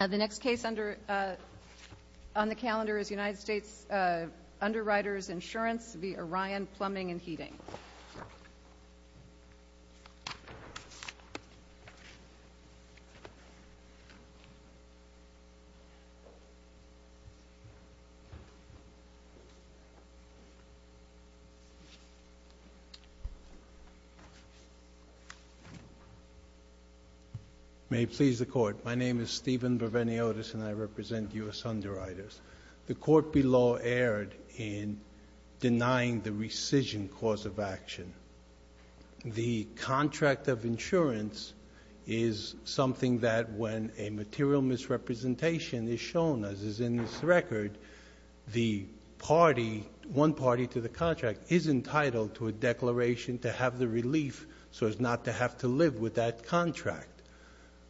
The next case on the calendar is U.S. Underwriters Insurance v. Orion Plumbing and Heating. May it please the Court, my name is Stephen Verveni-Otis and I represent U.S. Underwriters. The Court below erred in denying the rescission cause of action. The contract of insurance is something that when a material misrepresentation is shown, as is in this record, the party, one party to the contract, is entitled to a declaration to have the relief so as not to have to live with that contract.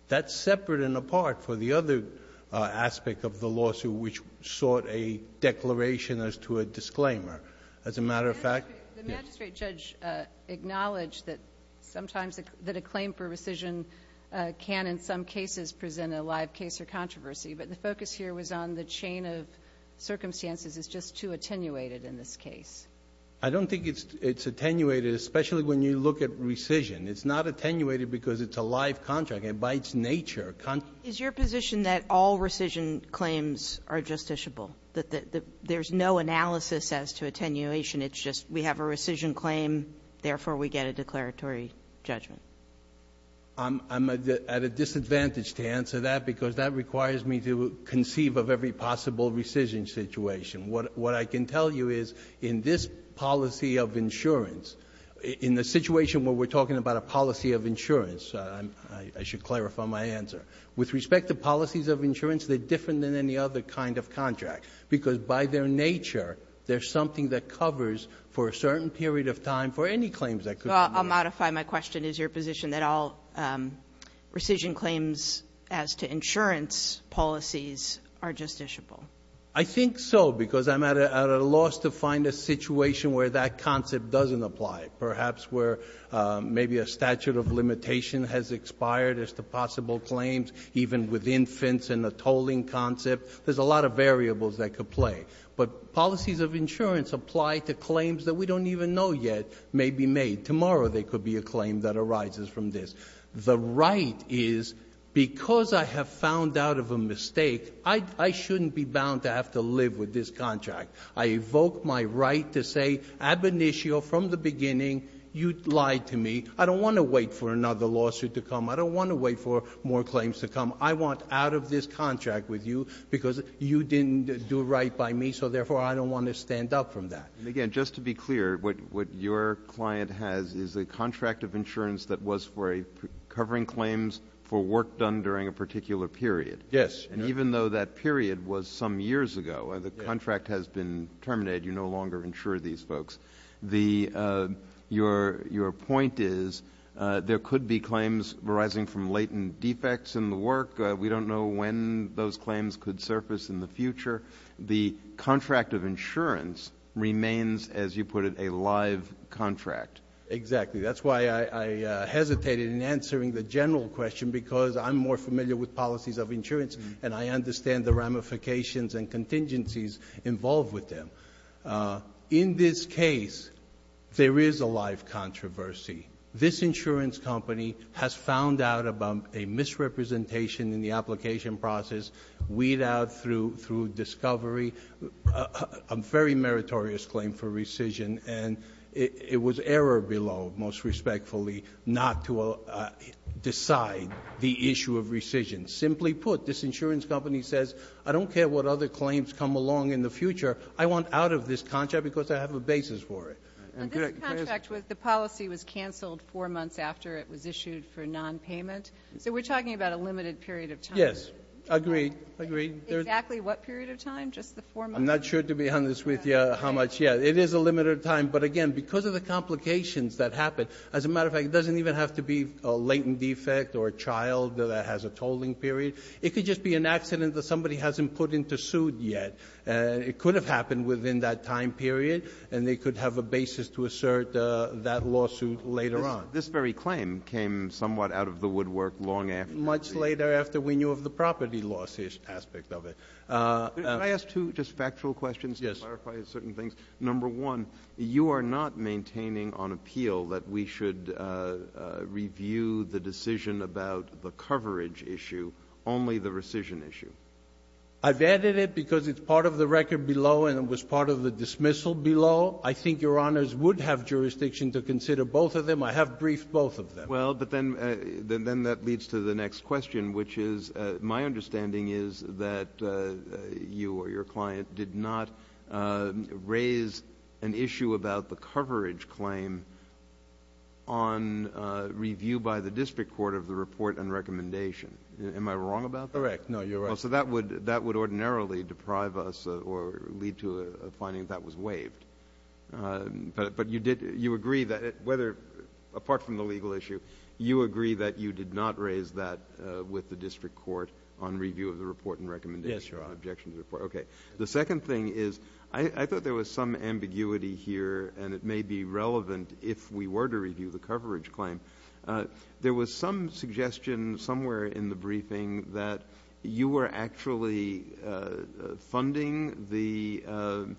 That's separate and apart for the other aspect of the lawsuit, which sought a declaration as to a disclaimer. As a matter of fact, yes. The magistrate judge acknowledged that sometimes that a claim for rescission can in some cases present a live case or controversy, but the focus here was on the chain of circumstances is just too attenuated in this case. I don't think it's attenuated, especially when you look at rescission. It's not attenuated because it's a live contract. And by its nature, contracts are justifiable. Kagan is your position that all rescission claims are justiciable, that there's no analysis as to attenuation, it's just we have a rescission claim, therefore we get a declaratory judgment? I'm at a disadvantage to answer that because that requires me to conceive of every possible rescission situation. What I can tell you is in this policy of insurance, in the situation where we're talking about a policy of insurance, I should clarify my answer. With respect to policies of insurance, they're different than any other kind of contract because by their nature, there's something that covers for a certain period of time for any claims that could be made. Well, I'll modify my question. Is your position that all rescission claims as to insurance policies are justiciable? I think so, because I'm at a loss to find a situation where that concept doesn't apply, perhaps where maybe a statute of limitation has expired as to possible claims, even with infants and a tolling concept. There's a lot of variables that could play. But policies of insurance apply to claims that we don't even know yet may be made. Tomorrow there could be a claim that arises from this. The right is because I have found out of a mistake, I shouldn't be bound to have to live with this contract. I evoke my right to say ab initio, from the beginning, you lied to me. I don't want to wait for another lawsuit to come. I don't want to wait for more claims to come. I want out of this contract with you because you didn't do right by me, so therefore I don't want to stand up from that. And, again, just to be clear, what your client has is a contract of insurance that was for covering claims for work done during a particular period. Yes. And even though that period was some years ago, the contract has been terminated. You no longer insure these folks. Your point is there could be claims arising from latent defects in the work. We don't know when those claims could surface in the future. The contract of insurance remains, as you put it, a live contract. Exactly. That's why I hesitated in answering the general question because I'm more familiar with policies of insurance and I understand the ramifications and contingencies involved with them. In this case, there is a live controversy. This insurance company has found out about a misrepresentation in the application process, weed out through discovery, a very meritorious claim for rescission, and it was error below, most respectfully, not to decide the issue of rescission. Simply put, this insurance company says I don't care what other claims come along in the future. I want out of this contract because I have a basis for it. And this contract with the policy was canceled four months after it was issued for nonpayment. So we're talking about a limited period of time. Yes. Agreed. Agreed. Exactly what period of time? Just the four months? I'm not sure to be honest with you how much yet. It is a limited time. But, again, because of the complications that happen, as a matter of fact, it doesn't even have to be a latent defect or a child that has a tolling period. It could just be an accident that somebody hasn't put into suit yet. It could have happened within that time period, and they could have a basis to assert that lawsuit later on. This very claim came somewhat out of the woodwork long after. Much later after we knew of the property lawsuit aspect of it. Can I ask two just factual questions? Yes. Let me clarify certain things. Number one, you are not maintaining on appeal that we should review the decision about the coverage issue, only the rescission issue. I've added it because it's part of the record below and it was part of the dismissal below. I think Your Honors would have jurisdiction to consider both of them. I have briefed both of them. Well, but then that leads to the next question, which is my understanding is that you or your client did not raise an issue about the coverage claim on review by the district court of the report and recommendation. Am I wrong about that? Correct. No, you're right. Well, so that would ordinarily deprive us or lead to a finding that that was waived. But you agree that, apart from the legal issue, you agree that you did not raise that with the district court on review of the report and recommendation. Yes, Your Honor. Okay. The second thing is I thought there was some ambiguity here and it may be relevant if we were to review the coverage claim. There was some suggestion somewhere in the briefing that you were actually funding the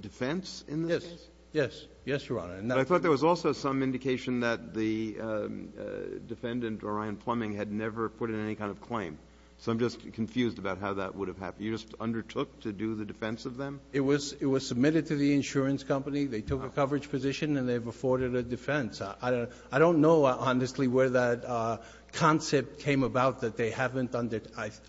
defense in this case? Yes. Yes, Your Honor. But I thought there was also some indication that the defendant, Orion Plumbing, had never put in any kind of claim. So I'm just confused about how that would have happened. You just undertook to do the defense of them? It was submitted to the insurance company. They took a coverage position and they've afforded a defense. I don't know, honestly, where that concept came about that they haven't undertaken it.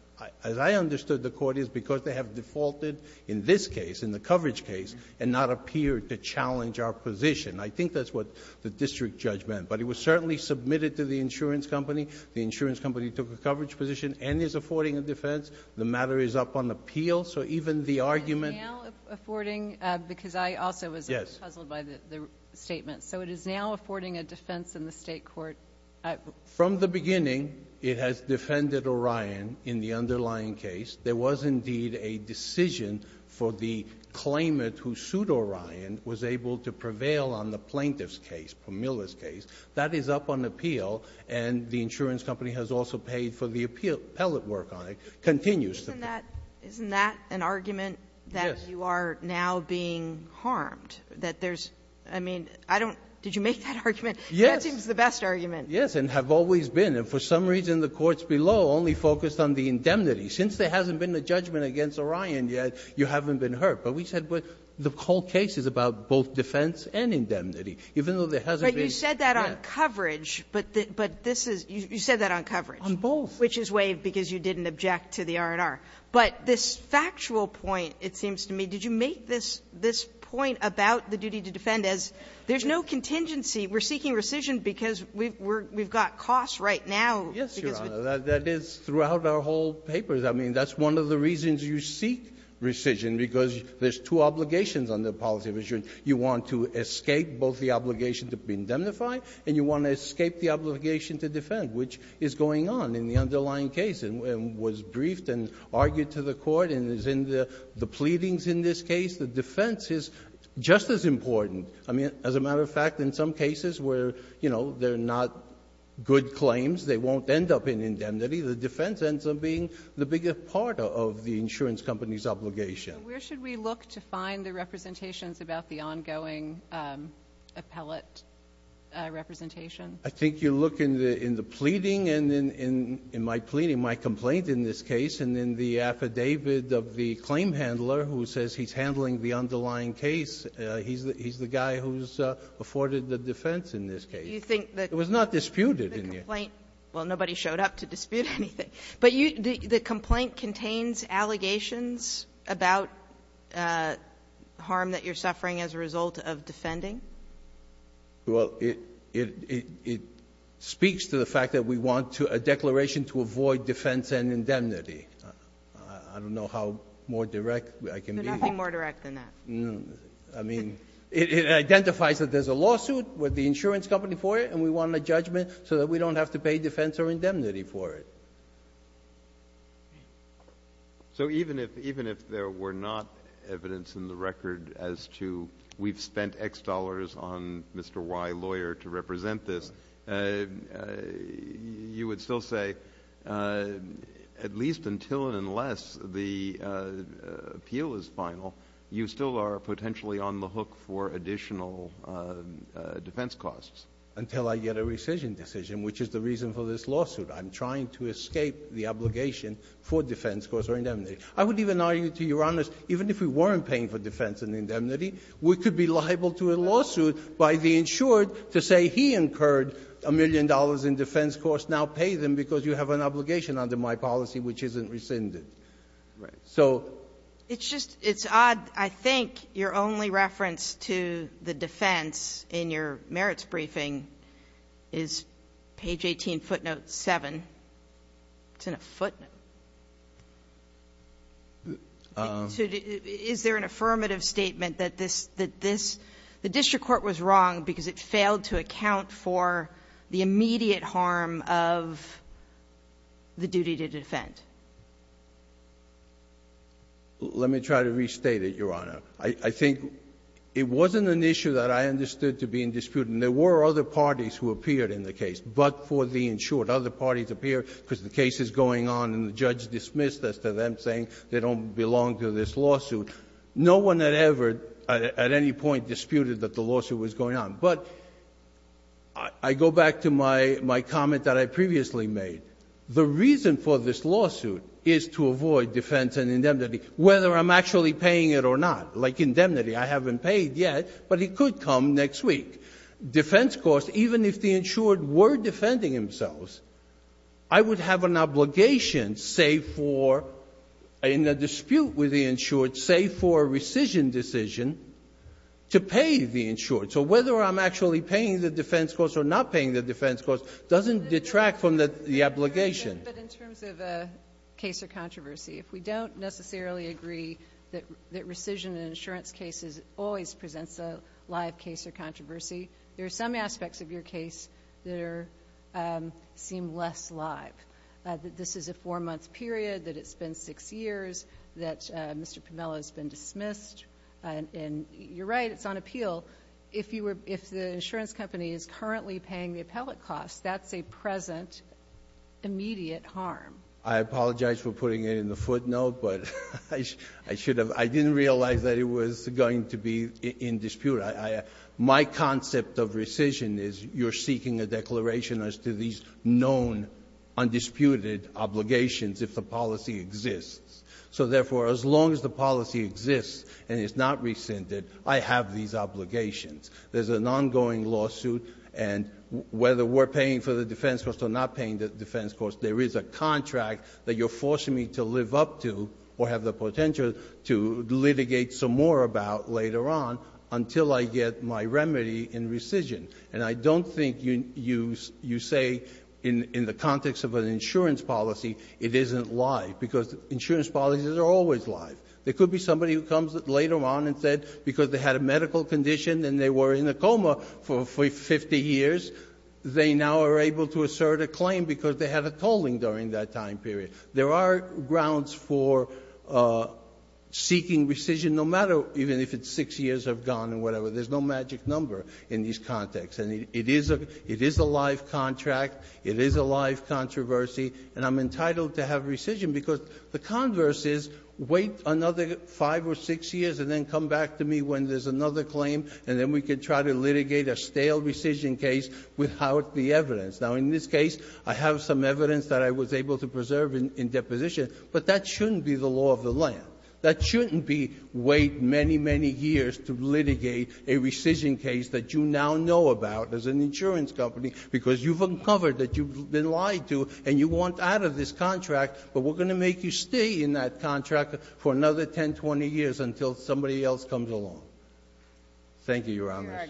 As I understood, the court is because they have defaulted in this case, in the coverage case, and not appeared to challenge our position. I think that's what the district judge meant. But it was certainly submitted to the insurance company. The insurance company took a coverage position and is affording a defense. The matter is up on appeal. So even the argument ---- It is now affording because I also was puzzled by the statement. So it is now affording a defense in the State court. From the beginning, it has defended Orion in the underlying case. There was indeed a decision for the claimant who sued Orion, was able to prevail on the plaintiff's case, from Miller's case. That is up on appeal. And the insurance company has also paid for the appellate work on it. It continues to pay. Isn't that an argument that you are now being harmed? That there's ---- I mean, I don't ---- did you make that argument? Yes. That seems the best argument. Yes, and have always been. And for some reason, the courts below only focused on the indemnity. Since there hasn't been a judgment against Orion yet, you haven't been hurt. But we said the whole case is about both defense and indemnity, even though there hasn't been ---- But you said that on coverage. But this is ---- you said that on coverage. On both. Which is waived because you didn't object to the R&R. But this factual point, it seems to me, did you make this point about the duty to defend as there's no contingency? We're seeking rescission because we've got costs right now. Yes, Your Honor. That is throughout our whole papers. I mean, that's one of the reasons you seek rescission, because there's two obligations on the policy of insurance. You want to escape both the obligation to be indemnified and you want to escape the obligation to defend, which is going on in the underlying case and was briefed and argued to the Court and is in the pleadings in this case. The defense is just as important. I mean, as a matter of fact, in some cases where, you know, they're not good claims, they won't end up in indemnity, the defense ends up being the biggest part of the insurance company's obligation. So where should we look to find the representations about the ongoing appellate representation? I think you look in the pleading and in my pleading, my complaint in this case, and in the affidavit of the claim handler who says he's handling the underlying case, he's the guy who's afforded the defense in this case. You think that ---- It was not disputed in here. Well, nobody showed up to dispute anything. But you do the complaint contains allegations about harm that you're suffering as a result of defending? Well, it speaks to the fact that we want to a declaration to avoid defense and indemnity. I don't know how more direct I can be. You're nothing more direct than that. I mean, it identifies that there's a lawsuit with the insurance company for it and we want a judgment so that we don't have to pay defense or indemnity for it. So even if there were not evidence in the record as to we've spent X dollars on Mr. Y, lawyer, to represent this, you would still say at least until and unless the appeal is final, you still are potentially on the hook for additional defense costs? Until I get a rescission decision, which is the reason for this lawsuit. I'm trying to escape the obligation for defense costs or indemnity. I would even argue to Your Honors, even if we weren't paying for defense and indemnity, we could be liable to a lawsuit by the insured to say he incurred a million dollars in defense costs, now pay them because you have an obligation under my policy which isn't rescinded. Right. So ---- It's just odd. I think your only reference to the defense in your merits briefing is page 18, footnote 7. It's in a footnote. Is there an affirmative statement that this, the district court was wrong because it failed to account for the immediate harm of the duty to defend? Let me try to restate it, Your Honor. I think it wasn't an issue that I understood to be in dispute, and there were other parties who appeared in the case, but for the insured. Other parties appeared because the case is going on and the judge dismissed as to them saying they don't belong to this lawsuit. No one had ever at any point disputed that the lawsuit was going on. But I go back to my comment that I previously made. The reason for this lawsuit is to avoid defense and indemnity, whether I'm actually paying it or not. Like indemnity, I haven't paid yet, but it could come next week. Defense costs, even if the insured were defending themselves, I would have an obligation save for in a dispute with the insured, save for a rescission decision to pay the insured. So whether I'm actually paying the defense costs or not paying the defense costs doesn't detract from the obligation. But in terms of a case or controversy, if we don't necessarily agree that rescission in insurance cases always presents a live case or controversy, there are some aspects of your case that seem less live. This is a four-month period, that it's been six years, that Mr. Pomelo has been dismissed, and you're right, it's on appeal. If you were — if the insurance company is currently paying the appellate costs, that's a present immediate harm. I apologize for putting it in the footnote, but I should have — I didn't realize that it was going to be in dispute. My concept of rescission is you're seeking a declaration as to these known, undisputed obligations if the policy exists. So therefore, as long as the policy exists and is not rescinded, I have these obligations. There's an ongoing lawsuit, and whether we're paying for the defense costs or not paying the defense costs, there is a contract that you're forcing me to live up to or have the potential to litigate some more about later on until I get my remedy in rescission. And I don't think you say in the context of an insurance policy, it isn't live, because insurance policies are always live. There could be somebody who comes later on and said because they had a medical condition and they were in a coma for 50 years, they now are able to assert a claim because they had a tolling during that time period. There are grounds for seeking rescission no matter even if it's six years have gone or whatever. There's no magic number in these contexts. And it is a — it is a live contract, it is a live controversy, and I'm entitled to have rescission because the converse is wait another five or six years and then come back to me when there's another claim, and then we can try to litigate a stale rescission case without the evidence. Now, in this case, I have some evidence that I was able to preserve in deposition, but that shouldn't be the law of the land. That shouldn't be wait many, many years to litigate a rescission case that you now know about as an insurance company because you've uncovered that you've been lied to and you want out of this contract, but we're going to make you stay in that contract for another 10, 20 years until somebody else comes along. Thank you, Your Honor.